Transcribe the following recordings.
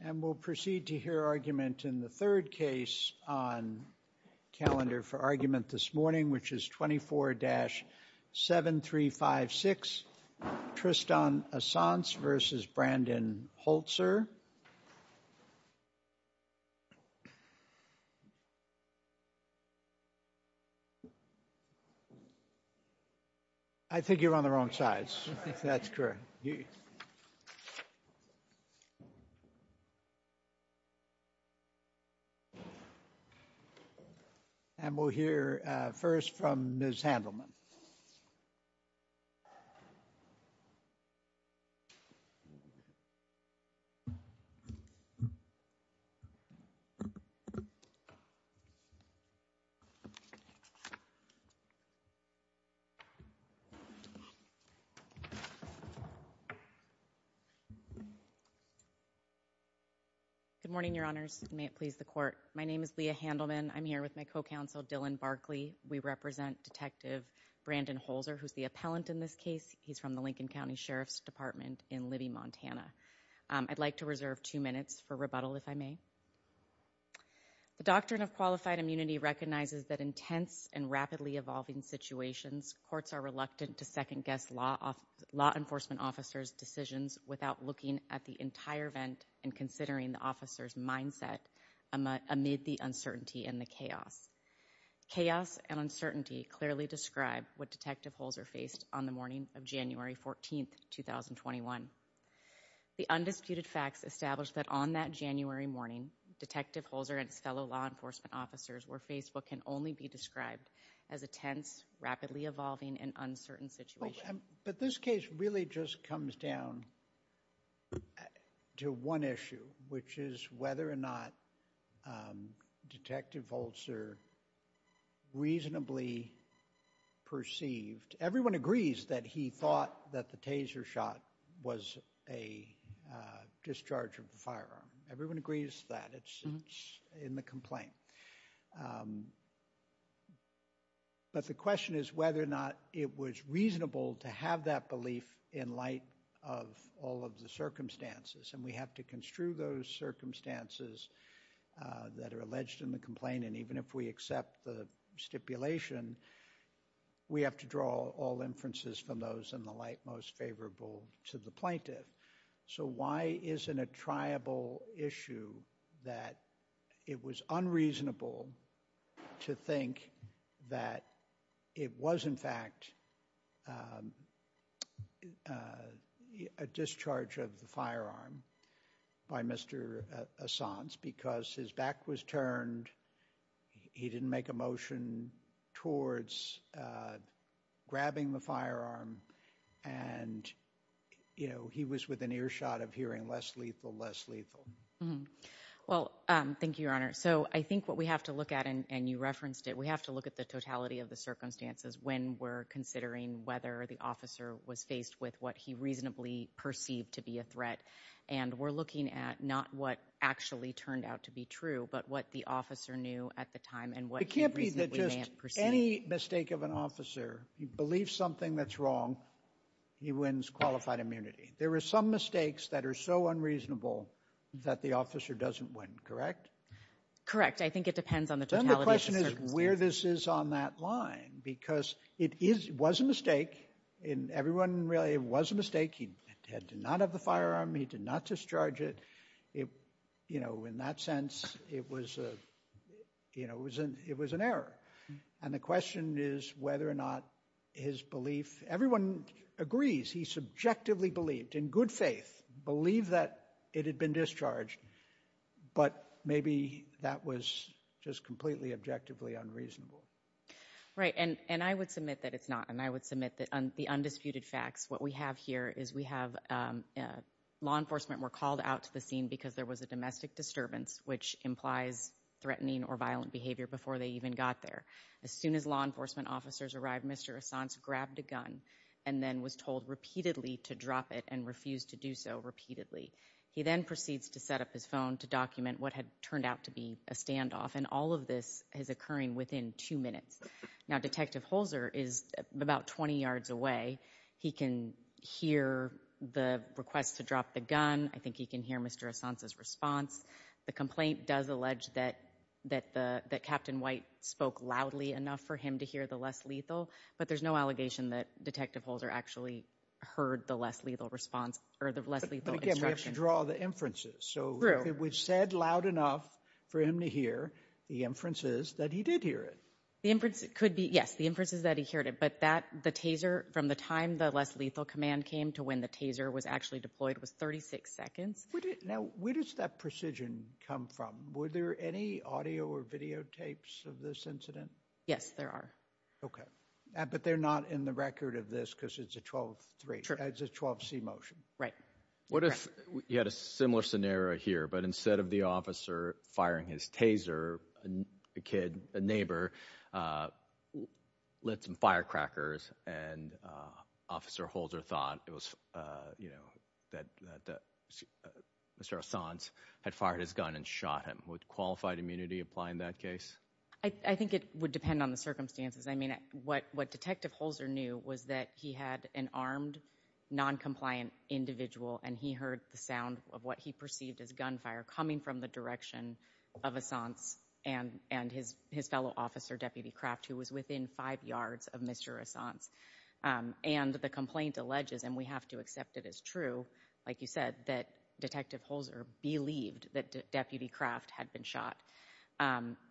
And we'll proceed to hear argument in the third case on calendar for argument this morning, which is 24-7356. Tristan Assance v. Brandon Holzer. I think you're on the wrong sides. That's correct. Yes. And we'll hear first from Ms. Handelman. Good morning, Your Honors. May it please the court. My name is Leah Handelman. I'm here with my co-counsel, Dylan Barkley. We represent Detective Brandon Holzer, who's the appellant in this case. He's from the Lincoln County Sheriff's Department in Libby, Montana. I'd like to reserve two minutes for rebuttal if I may. The doctrine of qualified immunity recognizes that in tense and rapidly evolving situations, courts are reluctant to second-guess law enforcement officers' decisions without looking at the entire event and considering the officer's mindset amid the uncertainty and the chaos. Chaos and uncertainty clearly describe what Detective Holzer faced on the morning of January 14, 2021. The undisputed facts establish that on that January morning, Detective Holzer and his fellow law enforcement officers were faced with what can only be described as a tense, rapidly evolving, and uncertain situation. But this case really just comes down to one issue, which is whether or not Detective Holzer reasonably perceived. Everyone agrees that he thought that the taser shot was a discharge of the firearm. Everyone agrees that it's in the complaint. But the question is whether or not it was reasonable to have that belief in light of all of the circumstances, and we have to construe those circumstances that are alleged in the complaint, and even if we accept the stipulation, we have to draw all inferences from those in the light most favorable to the plaintiff. So why isn't it a triable issue that it was unreasonable to think that it was in fact a discharge of the firearm by Mr. Assange because his back was turned, he didn't make a motion towards grabbing the firearm, and he was with an earshot of hearing less lethal, less lethal. Well, thank you, Your Honor. So I think what we have to look at, and you referenced it, we have to look at the totality of the circumstances when we're considering whether the officer was faced with what he reasonably perceived to be a threat, and we're looking at not what actually turned out to be true, but what the officer knew at the time and what he reasonably may have perceived. If there's any mistake of an officer, he believes something that's wrong, he wins qualified immunity. There are some mistakes that are so unreasonable that the officer doesn't win, correct? Correct. I think it depends on the totality of the circumstances. Then the question is where this is on that line, because it was a mistake, and everyone realized it was a mistake, he did not have the firearm, he did not discharge it, you know, in that sense, it was an error. And the question is whether or not his belief, everyone agrees he subjectively believed, in good faith, believed that it had been discharged, but maybe that was just completely objectively unreasonable. Right, and I would submit that it's not, and I would submit that the undisputed facts, what we have here is we have law enforcement were called out to the scene because there was a domestic disturbance, which implies threatening or violent behavior before they even got there. As soon as law enforcement officers arrived, Mr. Assange grabbed a gun and then was told repeatedly to drop it and refused to do so repeatedly. He then proceeds to set up his phone to document what had turned out to be a standoff, and all of this is occurring within two minutes. Now, Detective Holzer is about 20 yards away. He can hear the request to drop the gun, I think he can hear Mr. Assange's response. The complaint does allege that Captain White spoke loudly enough for him to hear the less lethal, but there's no allegation that Detective Holzer actually heard the less lethal response or the less lethal instruction. But again, we have to draw the inferences, so if it was said loud enough for him to hear, the inference is that he did hear it. The inference could be, yes, the inference is that he heard it, but that, the taser, from the time the less lethal command came to when the taser was actually deployed was 36 seconds. Now, where does that precision come from? Were there any audio or videotapes of this incident? Yes, there are. Okay, but they're not in the record of this because it's a 12-3, it's a 12-C motion. Right. What if you had a similar scenario here, but instead of the officer firing his taser, a kid, a neighbor, lit some firecrackers and Officer Holzer thought it was, you know, that Mr. Assange had fired his gun and shot him. Would qualified immunity apply in that case? I think it would depend on the circumstances. I mean, what Detective Holzer knew was that he had an armed, non-compliant individual and he heard the sound of what he perceived as gunfire coming from the direction of Assange and his fellow officer, Deputy Kraft, who was within five yards of Mr. Assange. And the complaint alleges, and we have to accept it as true, like you said, that Detective Holzer believed that Deputy Kraft had been shot.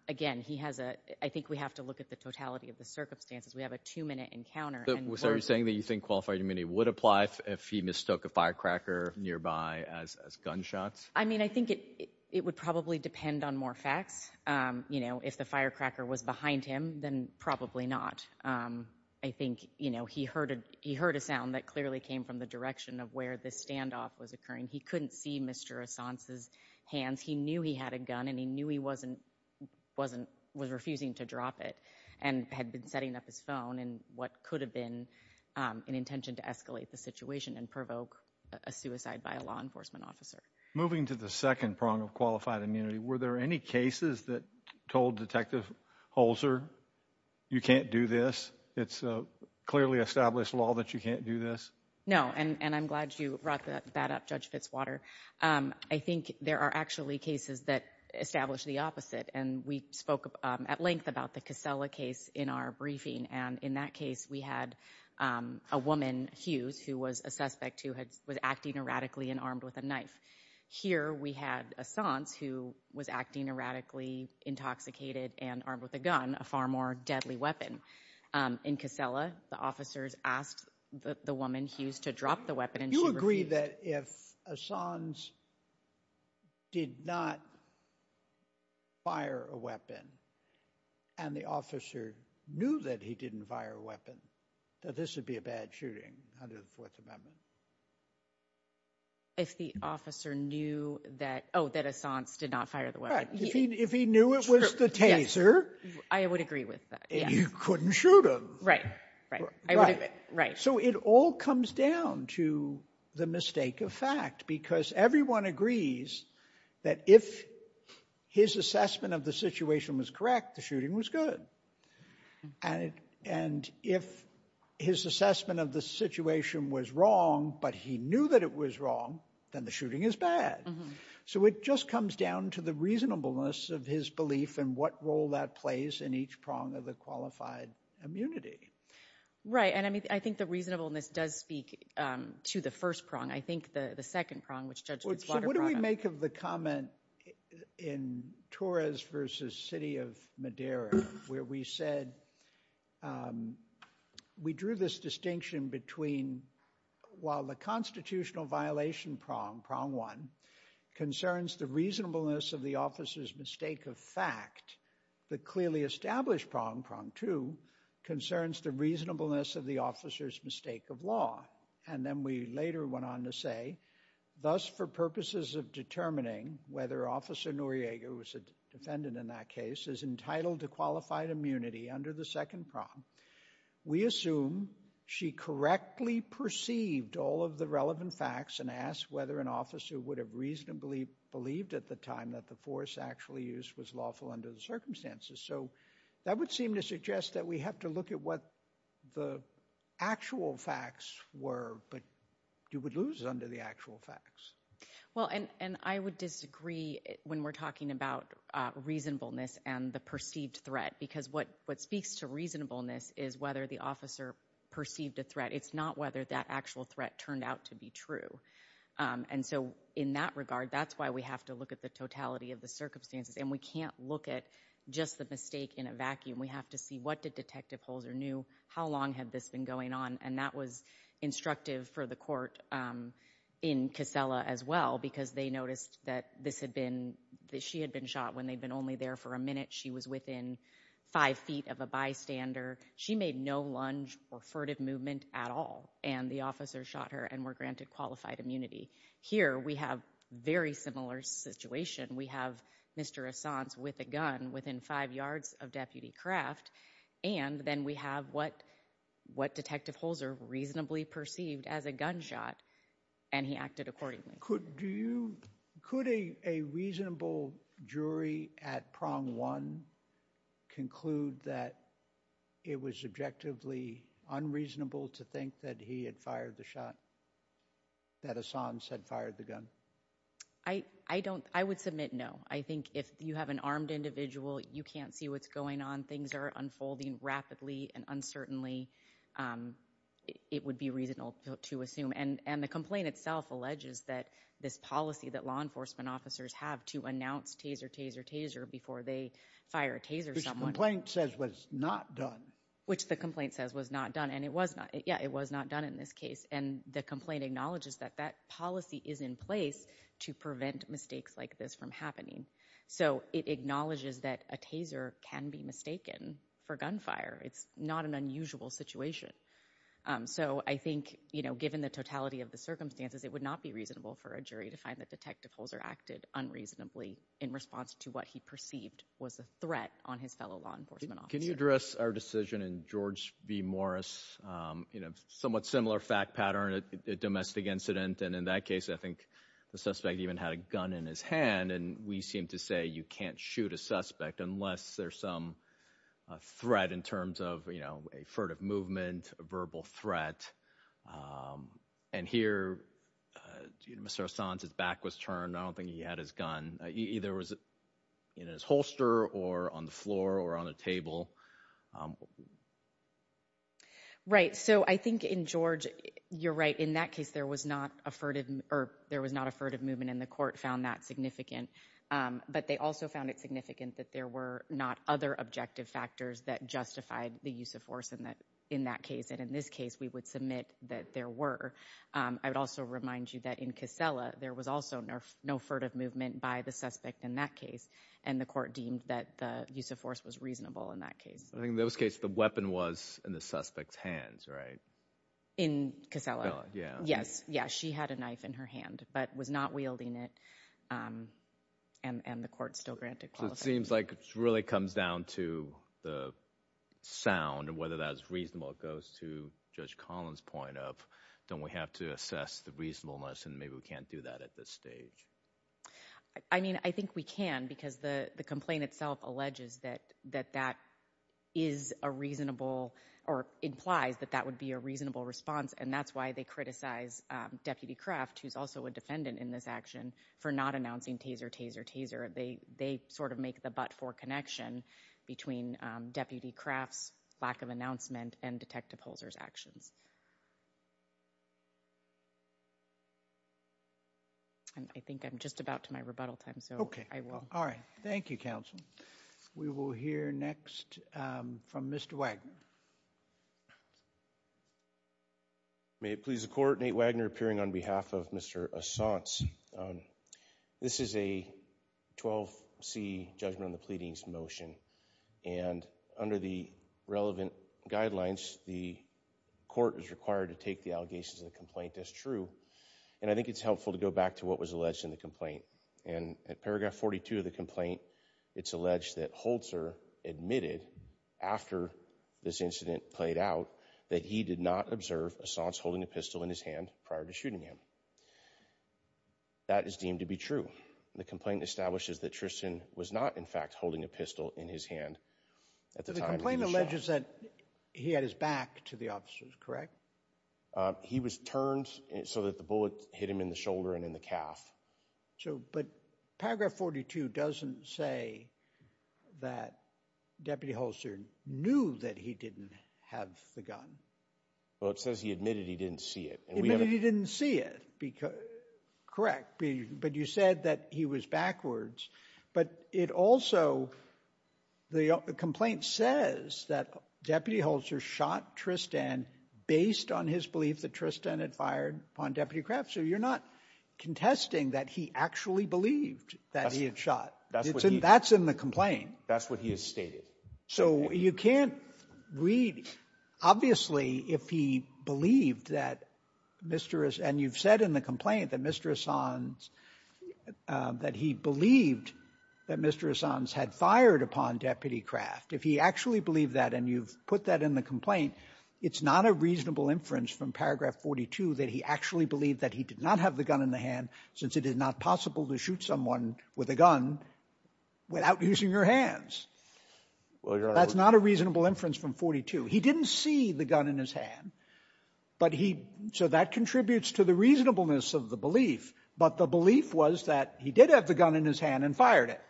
Again, he has a, I think we have to look at the totality of the circumstances. We have a two-minute encounter. So are you saying that you think qualified immunity would apply if he mistook a firecracker nearby as gunshots? I mean, I think it would probably depend on more facts. You know, if the firecracker was behind him, then probably not. I think, you know, he heard a sound that clearly came from the direction of where this standoff was occurring. He couldn't see Mr. Assange's hands. He knew he had a gun and he knew he was refusing to drop it and had been setting up his phone in what could have been an intention to escalate the situation and provoke a suicide by a law enforcement officer. Moving to the second prong of qualified immunity. Were there any cases that told Detective Holzer you can't do this? It's a clearly established law that you can't do this. No, and I'm glad you brought that up, Judge Fitzwater. I think there are actually cases that establish the opposite. And we spoke at length about the Casella case in our briefing. And in that case, we had a woman, Hughes, who was a suspect who was acting erratically and armed with a knife. Here, we had Assange, who was acting erratically, intoxicated and armed with a gun, a far more deadly weapon. In Casella, the officers asked the woman, Hughes, to drop the weapon and she refused. Do you agree that if Assange did not fire a weapon and the officer knew that he didn't fire a weapon, that this would be a bad shooting under the Fourth Amendment? If the officer knew that, oh, that Assange did not fire the weapon. If he knew it was the taser. I would agree with that. You couldn't shoot him. Right, right, right. So it all comes down to the mistake of fact. Because everyone agrees that if his assessment of the situation was correct, the shooting was good. And if his assessment of the situation was wrong, but he knew that it was wrong, then the shooting is bad. So it just comes down to the reasonableness of his belief and what role that plays in each prong of the qualified immunity. Right. And I mean, I think the reasonableness does speak to the first prong. I think the second prong, which Judge Fitzwater brought up. I make of the comment in Torres versus City of Madera, where we said we drew this distinction between while the constitutional violation prong, prong one, concerns the reasonableness of the officer's mistake of fact, the clearly established prong, prong two, concerns the reasonableness of the officer's mistake of law. And then we later went on to say, thus, for purposes of determining whether Officer Noriega, who was a defendant in that case, is entitled to qualified immunity under the second prong, we assume she correctly perceived all of the relevant facts and asked whether an officer would have reasonably believed at the time that the force actually used was lawful under the circumstances. So that would seem to suggest that we have to look at what the actual facts were, but you would lose under the actual facts. Well, and I would disagree when we're talking about reasonableness and the perceived threat, because what what speaks to reasonableness is whether the officer perceived a threat. It's not whether that actual threat turned out to be true. And so in that regard, that's why we have to look at the totality of the circumstances. And we can't look at just the mistake in a vacuum. We have to see what did Detective Holzer knew, how long had this been going on? And that was instructive for the court in Casella as well, because they noticed that this had been that she had been shot when they'd been only there for a minute. She was within five feet of a bystander. She made no lunge or furtive movement at all. And the officer shot her and were granted qualified immunity. Here we have very similar situation. We have Mr. Assange with a gun within five yards of Deputy Craft. And then we have what what Detective Holzer reasonably perceived as a gunshot. And he acted accordingly. Could do you could a a reasonable jury at prong one conclude that it was objectively unreasonable to think that he had fired the shot? That Assange had fired the gun? I I don't I would submit no. I think if you have an armed individual, you can't see what's going on. Things are unfolding rapidly and uncertainly. It would be reasonable to assume and and the complaint itself alleges that this policy that law enforcement officers have to announce taser, taser, taser before they fire a taser. Someone says was not done, which the complaint says was not done. And it was not. Yeah, it was not done in this case. And the complaint acknowledges that that policy is in place to prevent mistakes like this from happening. So it acknowledges that a taser can be mistaken for gunfire. It's not an unusual situation. So I think, you know, given the totality of the circumstances, it would not be reasonable for a jury to find that Detective Holzer acted unreasonably in response to what he perceived was a threat on his fellow law enforcement. Can you address our decision in George v. Morris, you know, somewhat similar fact pattern, a domestic incident. And in that case, I think the suspect even had a gun in his hand. And we seem to say you can't shoot a suspect unless there's some threat in terms of, you know, a furtive movement, a verbal threat. And here, Mr. Hassan's back was turned. I don't think he had his gun. Either was in his holster or on the floor or on the table. Right. So I think in George, you're right. In that case, there was not a furtive or there was not a furtive movement. And the court found that significant. But they also found it significant that there were not other objective factors that justified the use of force in that in that case. And in this case, we would submit that there were. I would also remind you that in Casella, there was also no furtive movement by the suspect in that case. And the court deemed that the use of force was reasonable in that case. In those cases, the weapon was in the suspect's hands, right? In Casella? Yeah. Yes. Yeah. She had a knife in her hand, but was not wielding it. And the court still granted. So it seems like it really comes down to the sound and whether that's reasonable. It goes to Judge Collins point of don't we have to assess the reasonableness? And maybe we can't do that at this stage. I mean, I think we can because the complaint itself alleges that that is a reasonable or implies that that would be a reasonable response. And that's why they criticize Deputy Craft, who's also a defendant in this action, for not announcing taser, taser, taser. They they sort of make the but for connection between Deputy Craft's lack of announcement and Detective Holzer's actions. And I think I'm just about to my rebuttal time, so I will. All right. Thank you, counsel. We will hear next from Mr. Wagner. May it please the court. Nate Wagner appearing on behalf of Mr. Assange. This is a 12 C judgment on the pleadings motion. And under the relevant guidelines, the court is required to take the allegations of the complaint as true. And I think it's helpful to go back to what was alleged in the complaint. And at paragraph 42 of the complaint, it's alleged that Holzer admitted after this incident played out that he did not observe Assange holding a pistol in his hand prior to shooting him. That is deemed to be true. The complaint establishes that Tristan was not, in fact, holding a pistol in his hand at the time. The complaint alleges that he had his back to the officers, correct? He was turned so that the bullet hit him in the shoulder and in the calf. So, but paragraph 42 doesn't say that Deputy Holzer knew that he didn't have the gun. Well, it says he admitted he didn't see it. He admitted he didn't see it. Correct. But you said that he was backwards. But it also, the complaint says that Deputy Holzer shot Tristan based on his belief that Tristan had fired upon Deputy Kraft. You're not contesting that he actually believed that he had shot. That's in the complaint. That's what he has stated. So you can't read. Obviously, if he believed that Mr. Assange, and you've said in the complaint that Mr. Assange, that he believed that Mr. Assange had fired upon Deputy Kraft. If he actually believed that and you've put that in the complaint, it's not a reasonable inference from paragraph 42 that he actually believed that he did not have the gun in the hand since it is not possible to shoot someone with a gun without using your hands. That's not a reasonable inference from 42. He didn't see the gun in his hand. But he, so that contributes to the reasonableness of the belief. But the belief was that he did have the gun in his hand and fired it.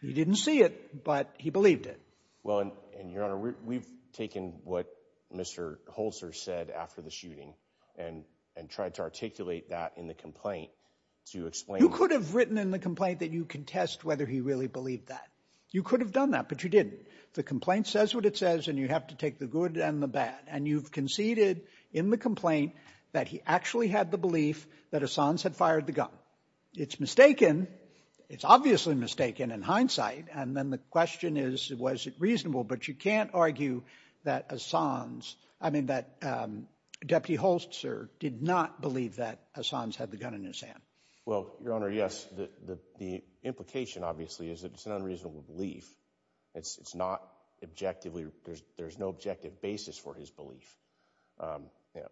He didn't see it, but he believed it. Well, and Your Honor, we've taken what Mr. Holzer said after the shooting. And tried to articulate that in the complaint to explain. You could have written in the complaint that you contest whether he really believed that. You could have done that, but you didn't. The complaint says what it says, and you have to take the good and the bad. And you've conceded in the complaint that he actually had the belief that Assange had fired the gun. It's mistaken. It's obviously mistaken in hindsight. And then the question is, was it reasonable? But you can't argue that Assange, I mean, that Deputy Holzer did not believe that Assange had the gun in his hand. Well, Your Honor, yes. The implication, obviously, is that it's an unreasonable belief. It's not objectively, there's no objective basis for his belief.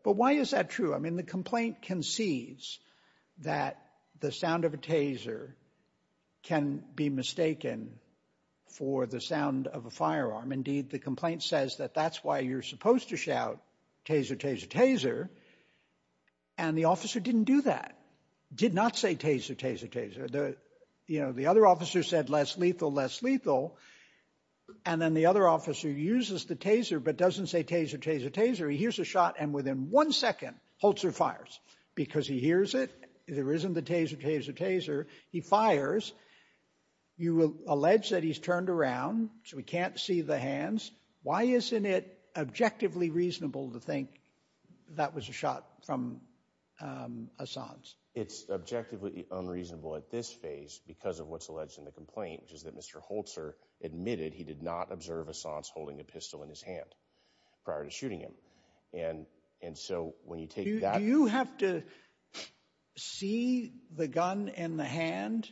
But why is that true? I mean, the complaint concedes that the sound of a taser can be mistaken for the sound of a firearm. Indeed, the complaint says that that's why you're supposed to shout taser, taser, taser. And the officer didn't do that. Did not say taser, taser, taser. You know, the other officer said less lethal, less lethal. And then the other officer uses the taser, but doesn't say taser, taser, taser. He hears a shot and within one second, Holzer fires. Because he hears it, there isn't the taser, taser, taser. He fires. You will allege that he's turned around, so he can't see the hands. Why isn't it objectively reasonable to think that was a shot from Assange? It's objectively unreasonable at this phase because of what's alleged in the complaint, which is that Mr. Holzer admitted he did not observe Assange holding a pistol in his hand prior to shooting him. And so when you take that... Do you have to see the gun in the hand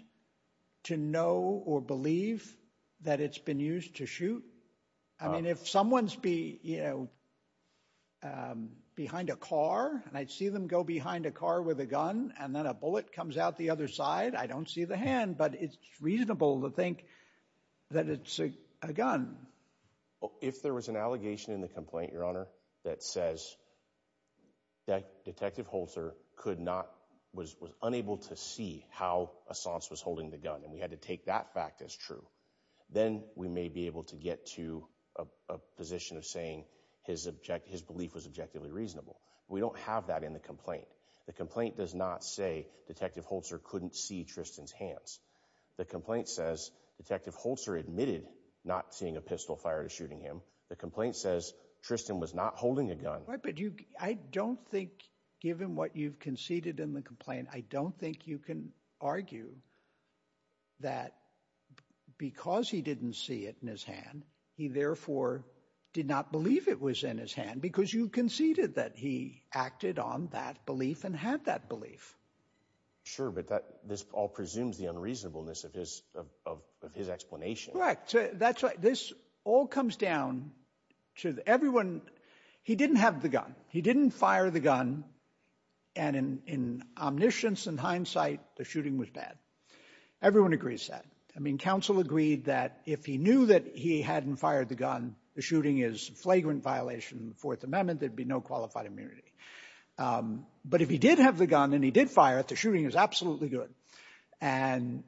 to know or believe that it's been used to shoot? I mean, if someone's behind a car and I see them go behind a car with a gun and then a bullet comes out the other side, I don't see the hand. But it's reasonable to think that it's a gun. If there was an allegation in the complaint, Your Honor, that says that Detective Holzer could not, was unable to see how Assange was holding the gun and we had to take that fact as true, then we may be able to get to a position of saying his belief was objectively reasonable. We don't have that in the complaint. The complaint does not say Detective Holzer couldn't see Tristan's hands. The complaint says Detective Holzer admitted not seeing a pistol fired or shooting him. The complaint says Tristan was not holding a gun. I don't think, given what you've conceded in the complaint, I don't think you can argue that because he didn't see it in his hand, he therefore did not believe it was in his hand because you conceded that he acted on that belief and had that belief. Sure, but this all presumes the unreasonableness of his explanation. Correct. That's right. This all comes down to everyone, he didn't have the gun. He didn't fire the gun and in omniscience and hindsight, the shooting was bad. Everyone agrees that. I mean, counsel agreed that if he knew that he hadn't fired the gun, the shooting is a flagrant violation of the Fourth Amendment, there'd be no qualified immunity. Um, but if he did have the gun and he did fire it, the shooting is absolutely good. And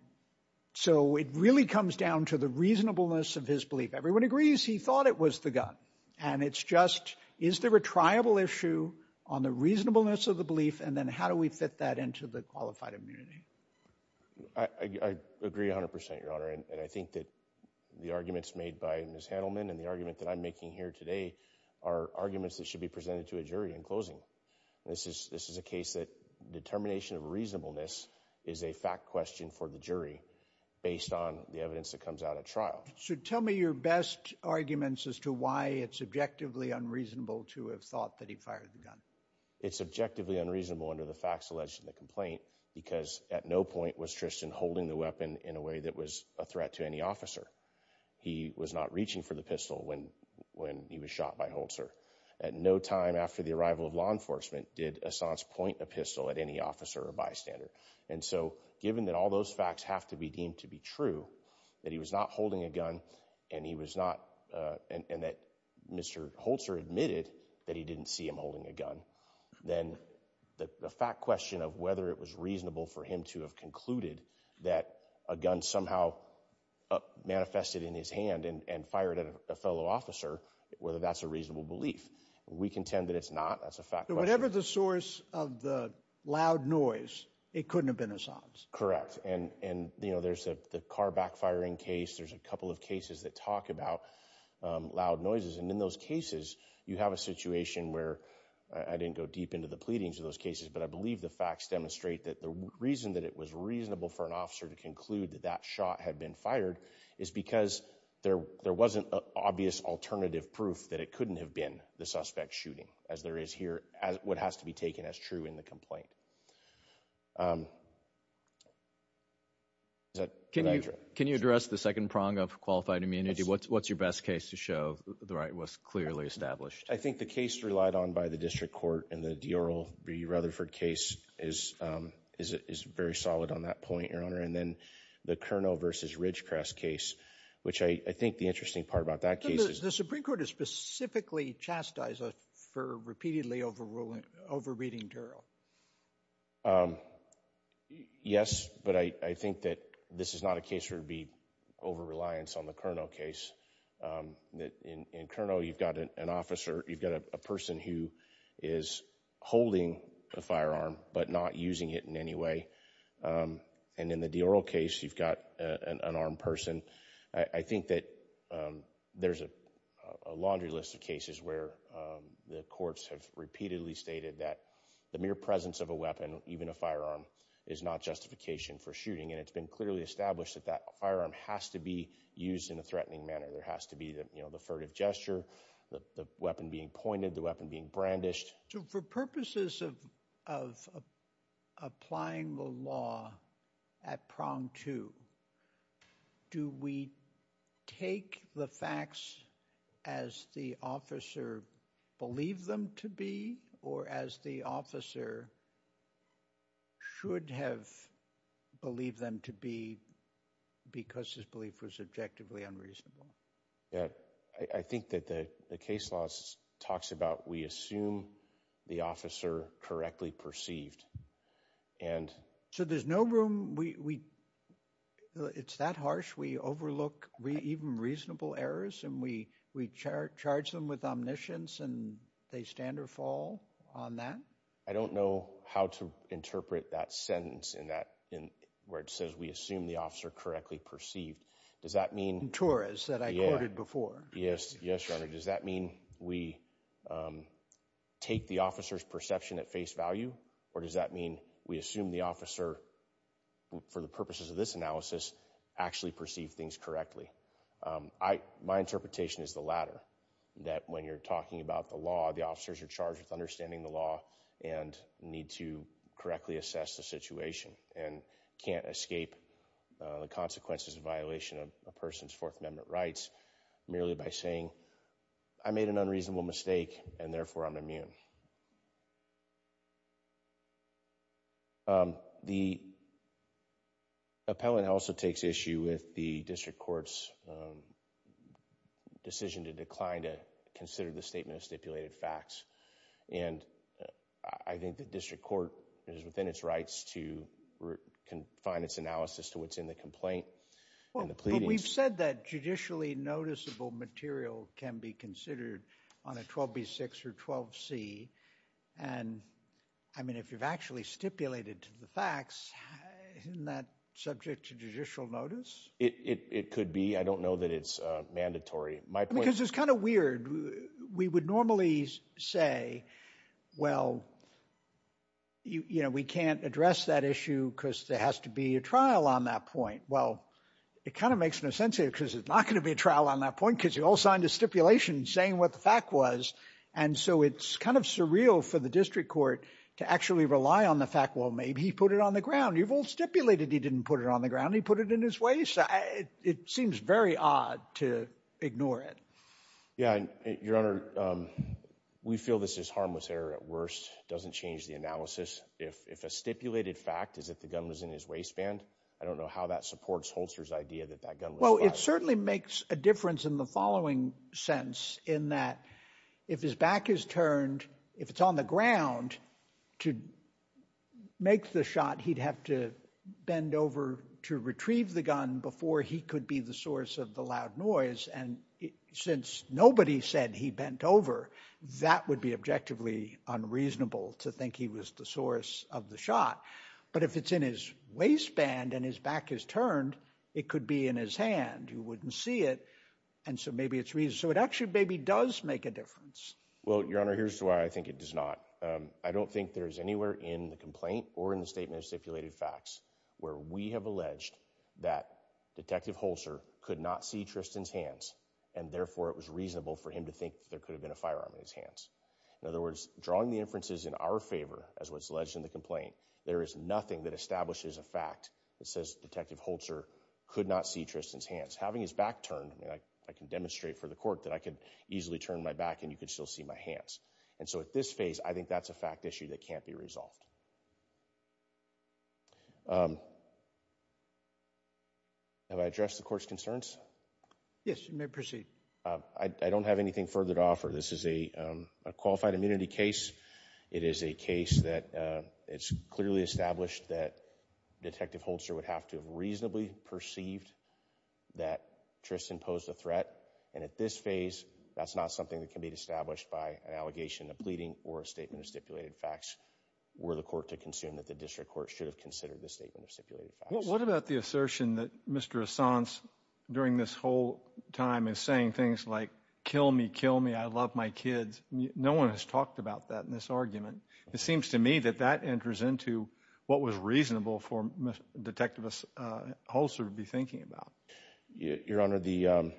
so it really comes down to the reasonableness of his belief. Everyone agrees he thought it was the gun. And it's just, is there a triable issue on the reasonableness of the belief? And then how do we fit that into the qualified immunity? I agree 100%, Your Honor. And I think that the arguments made by Ms. Handelman and the argument that I'm making here today are arguments that should be presented to a jury in closing. This is a case that determination of reasonableness is a fact question for the jury based on the evidence that comes out of trial. So tell me your best arguments as to why it's objectively unreasonable to have thought that he fired the gun. It's objectively unreasonable under the facts alleged in the complaint because at no point was Tristan holding the weapon in a way that was a threat to any officer. He was not reaching for the pistol when he was shot by Holzer. At no time after the arrival of law enforcement did Assange point a pistol at any officer or bystander. And so given that all those facts have to be deemed to be true, that he was not holding a gun and he was not, and that Mr. Holzer admitted that he didn't see him holding a gun, then the fact question of whether it was reasonable for him to have concluded that a gun somehow manifested in his hand and fired at a fellow officer, whether that's a reasonable belief. We contend that it's not. That's a fact. Whatever the source of the loud noise, it couldn't have been Assange. Correct. And, you know, there's the car backfiring case. There's a couple of cases that talk about loud noises. And in those cases, you have a situation where I didn't go deep into the pleadings of those cases, but I believe the facts demonstrate that the reason that it was reasonable for an officer to conclude that that shot had been fired is because there wasn't an obvious alternative proof that it couldn't have been the suspect shooting as there is here as what has to be taken as true in the complaint. Can you address the second prong of qualified immunity? What's your best case to show the right was clearly established? I think the case relied on by the district court and the D'Uriel B. Rutherford case is very solid on that point, Your Honor. And then the Kernow versus Ridgecrest case, which I think the interesting part about that case is... The Supreme Court has specifically chastised us for repeatedly overruling, over reading D'Uriel. Yes, but I think that this is not a case where it would be over reliance on the Kernow case. In Kernow, you've got an officer, you've got a person who is holding a firearm, but not using it in any way. And in the D'Uriel case, you've got an unarmed person. I think that there's a laundry list of cases where the courts have repeatedly stated that the mere presence of a weapon, even a firearm, is not justification for shooting. And it's been clearly established that that firearm has to be used in a threatening manner. There has to be the furtive gesture, the weapon being pointed, the weapon being brandished. So for purposes of applying the law at prong two, do we take the facts as the officer believed them to be, or as the officer should have believed them to be because his belief was objectively unreasonable? Yeah, I think that the case law talks about we assume the officer correctly perceived. And- So there's no room, it's that harsh? We overlook even reasonable errors and we charge them with omniscience and they stand or fall on that? I don't know how to interpret that sentence where it says we assume the officer correctly perceived. Does that mean- That I quoted before. Yes, yes, Your Honor. Does that mean we take the officer's perception at face value? Or does that mean we assume the officer, for the purposes of this analysis, actually perceived things correctly? My interpretation is the latter, that when you're talking about the law, the officers are charged with understanding the law and need to correctly assess the situation and can't escape the consequences of violation of a person's Fourth Amendment rights merely by saying I made an unreasonable mistake and therefore I'm immune. The appellant also takes issue with the district court's decision to decline to consider the statement of stipulated facts. And I think the district court is within its rights to confine its analysis to what's in the complaint and the pleadings. But we've said that judicially noticeable material can be considered on a 12b6 or 12c. And I mean, if you've actually stipulated to the facts, isn't that subject to judicial notice? It could be. I don't know that it's mandatory. My point- Because it's kind of weird. We would normally say, well, you know, we can't address that issue because there has to be a trial on that point. Well, it kind of makes no sense here because there's not going to be a trial on that point because you all signed a stipulation saying what the fact was. And so it's kind of surreal for the district court to actually rely on the fact, well, maybe he put it on the ground. You've all stipulated he didn't put it on the ground. He put it in his waist. It seems very odd to ignore it. Yeah, Your Honor, we feel this is harmless error at worst. It doesn't change the analysis. If a stipulated fact is that the gun was in his waistband, I don't know how that supports Holster's idea that that gun was fired. Well, it certainly makes a difference in the following sense, in that if his back is turned, if it's on the ground to make the shot, he'd have to bend over to retrieve the gun before he could be the source of the loud noise. And since nobody said he bent over, that would be objectively unreasonable to think he was the source of the shot. But if it's in his waistband and his back is turned, it could be in his hand. You wouldn't see it. And so maybe it's reason. So it actually maybe does make a difference. Well, Your Honor, here's why I think it does not. I don't think there's anywhere in the complaint or in the statement of stipulated facts where we have alleged that Detective Holster could not see Tristan's hands and therefore it was reasonable for him to think that there could have been a firearm in his hands. In other words, drawing the inferences in our favor as what's alleged in the complaint, there is nothing that establishes a fact that says Detective Holster could not see Tristan's hands. Having his back turned, I can demonstrate for the court that I could easily turn my back and you could still see my hands. And so at this phase, I think that's a fact issue that can't be resolved. Have I addressed the court's concerns? Yes, you may proceed. I don't have anything further to offer. This is a qualified immunity case. It is a case that it's clearly established that Detective Holster would have to have reasonably perceived that Tristan posed a threat. And at this phase, that's not something that can be established by an allegation, a pleading or a statement of stipulated facts were the court to consume that the district court should have considered the statement of stipulated facts. What about the assertion that Mr. Assange during this whole time is saying things like kill me, kill me, I love my kids. No one has talked about that in this argument. It seems to me that that enters into what was reasonable for Detective Holster to be thinking about. Your Honor, the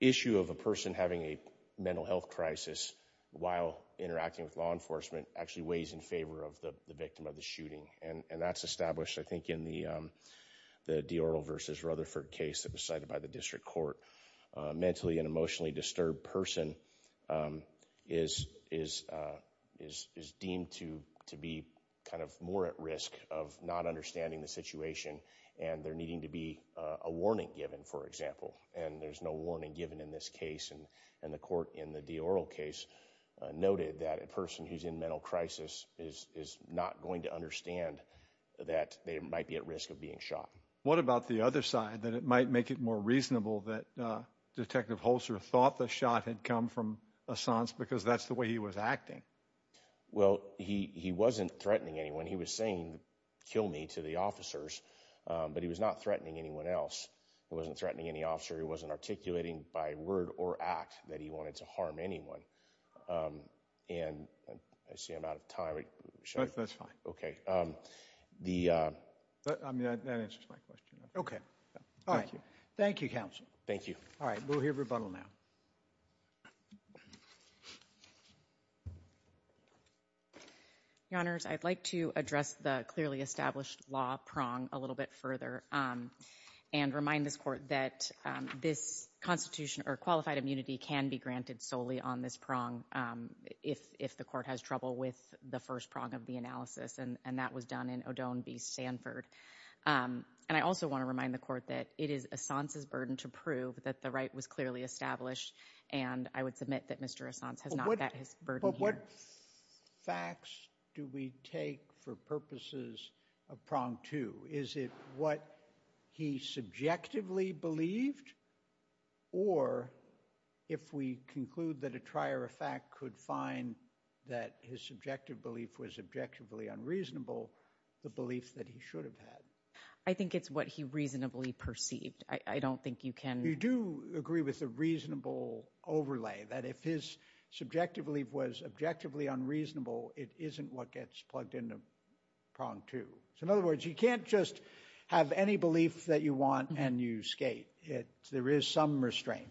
issue of a person having a mental health crisis while interacting with law enforcement actually weighs in favor of the victim of the shooting. And that's established, I think, in the Dioro versus Rutherford case that was cited by the district court. Mentally and emotionally disturbed person is deemed to be kind of more at risk of not understanding the situation and there needing to be a warning given, for example. And there's no warning given in this case. And the court in the Dioro case noted that a person who's in mental crisis is not going to understand that they might be at risk of being shot. What about the other side, that it might make it more reasonable that Detective Holster thought the shot had come from Assange because that's the way he was acting? Well, he wasn't threatening anyone. He was saying, kill me, to the officers. But he was not threatening anyone else. He wasn't threatening any officer. He wasn't articulating by word or act that he wanted to harm anyone. And I see I'm out of time. That's fine. Okay. That answers my question. Okay. All right. Thank you, counsel. All right. We'll hear rebuttal now. Your Honors, I'd like to address the clearly established law prong a little bit further and remind this court that this qualified immunity can be granted solely on this prong if the court has trouble with the first prong of the analysis. And that was done in Odone v. Sanford. And I also want to remind the court it is Assange's burden to prove that the right was clearly established. And I would submit that Mr. Assange has not met his burden here. But what facts do we take for purposes of prong two? Is it what he subjectively believed? Or if we conclude that a trier of fact could find that his subjective belief was objectively unreasonable, the belief that he should have had? I think it's what he reasonably perceived. I don't think you can... You do agree with the reasonable overlay that if his subjective belief was objectively unreasonable, it isn't what gets plugged into prong two. So in other words, you can't just have any belief that you want and you skate. There is some restraint.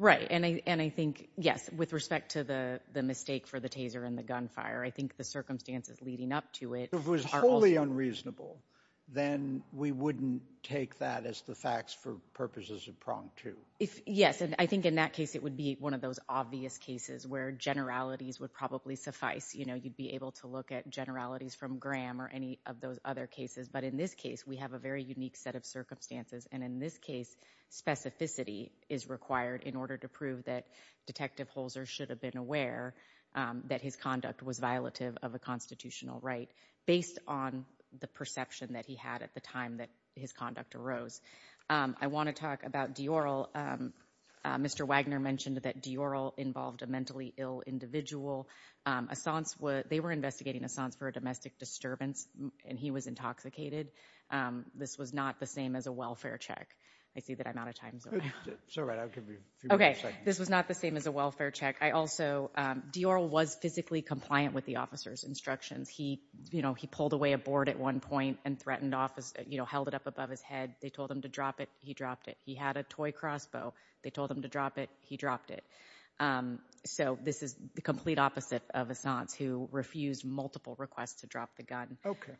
Right. And I think, yes, with respect to the mistake for the taser and the gunfire, I think the circumstances leading up to it... If it was wholly unreasonable, then we wouldn't take that as the facts for purposes of prong two. Yes. And I think in that case, it would be one of those obvious cases where generalities would probably suffice. You know, you'd be able to look at generalities from Graham or any of those other cases. But in this case, we have a very unique set of circumstances. And in this case, specificity is required in order to prove that Detective Holzer should have been aware that his conduct was violative of a constitutional right. Based on the perception that he had at the time that his conduct arose. I want to talk about Dioral. Mr. Wagner mentioned that Dioral involved a mentally ill individual. They were investigating Assange for a domestic disturbance and he was intoxicated. This was not the same as a welfare check. I see that I'm out of time. It's all right. I'll give you a few more seconds. This was not the same as a welfare check. I also... Dioral was physically compliant with the officer's instructions. He pulled away a board at one point and threatened office, held it up above his head. They told him to drop it. He dropped it. He had a toy crossbow. They told him to drop it. He dropped it. So this is the complete opposite of Assange who refused multiple requests to drop the gun. Okay.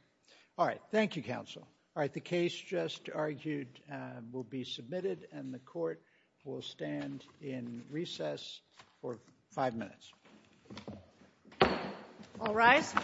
All right. Thank you, counsel. All right. The case just argued will be submitted and the court will stand in recess for five minutes. All rise. Thank you.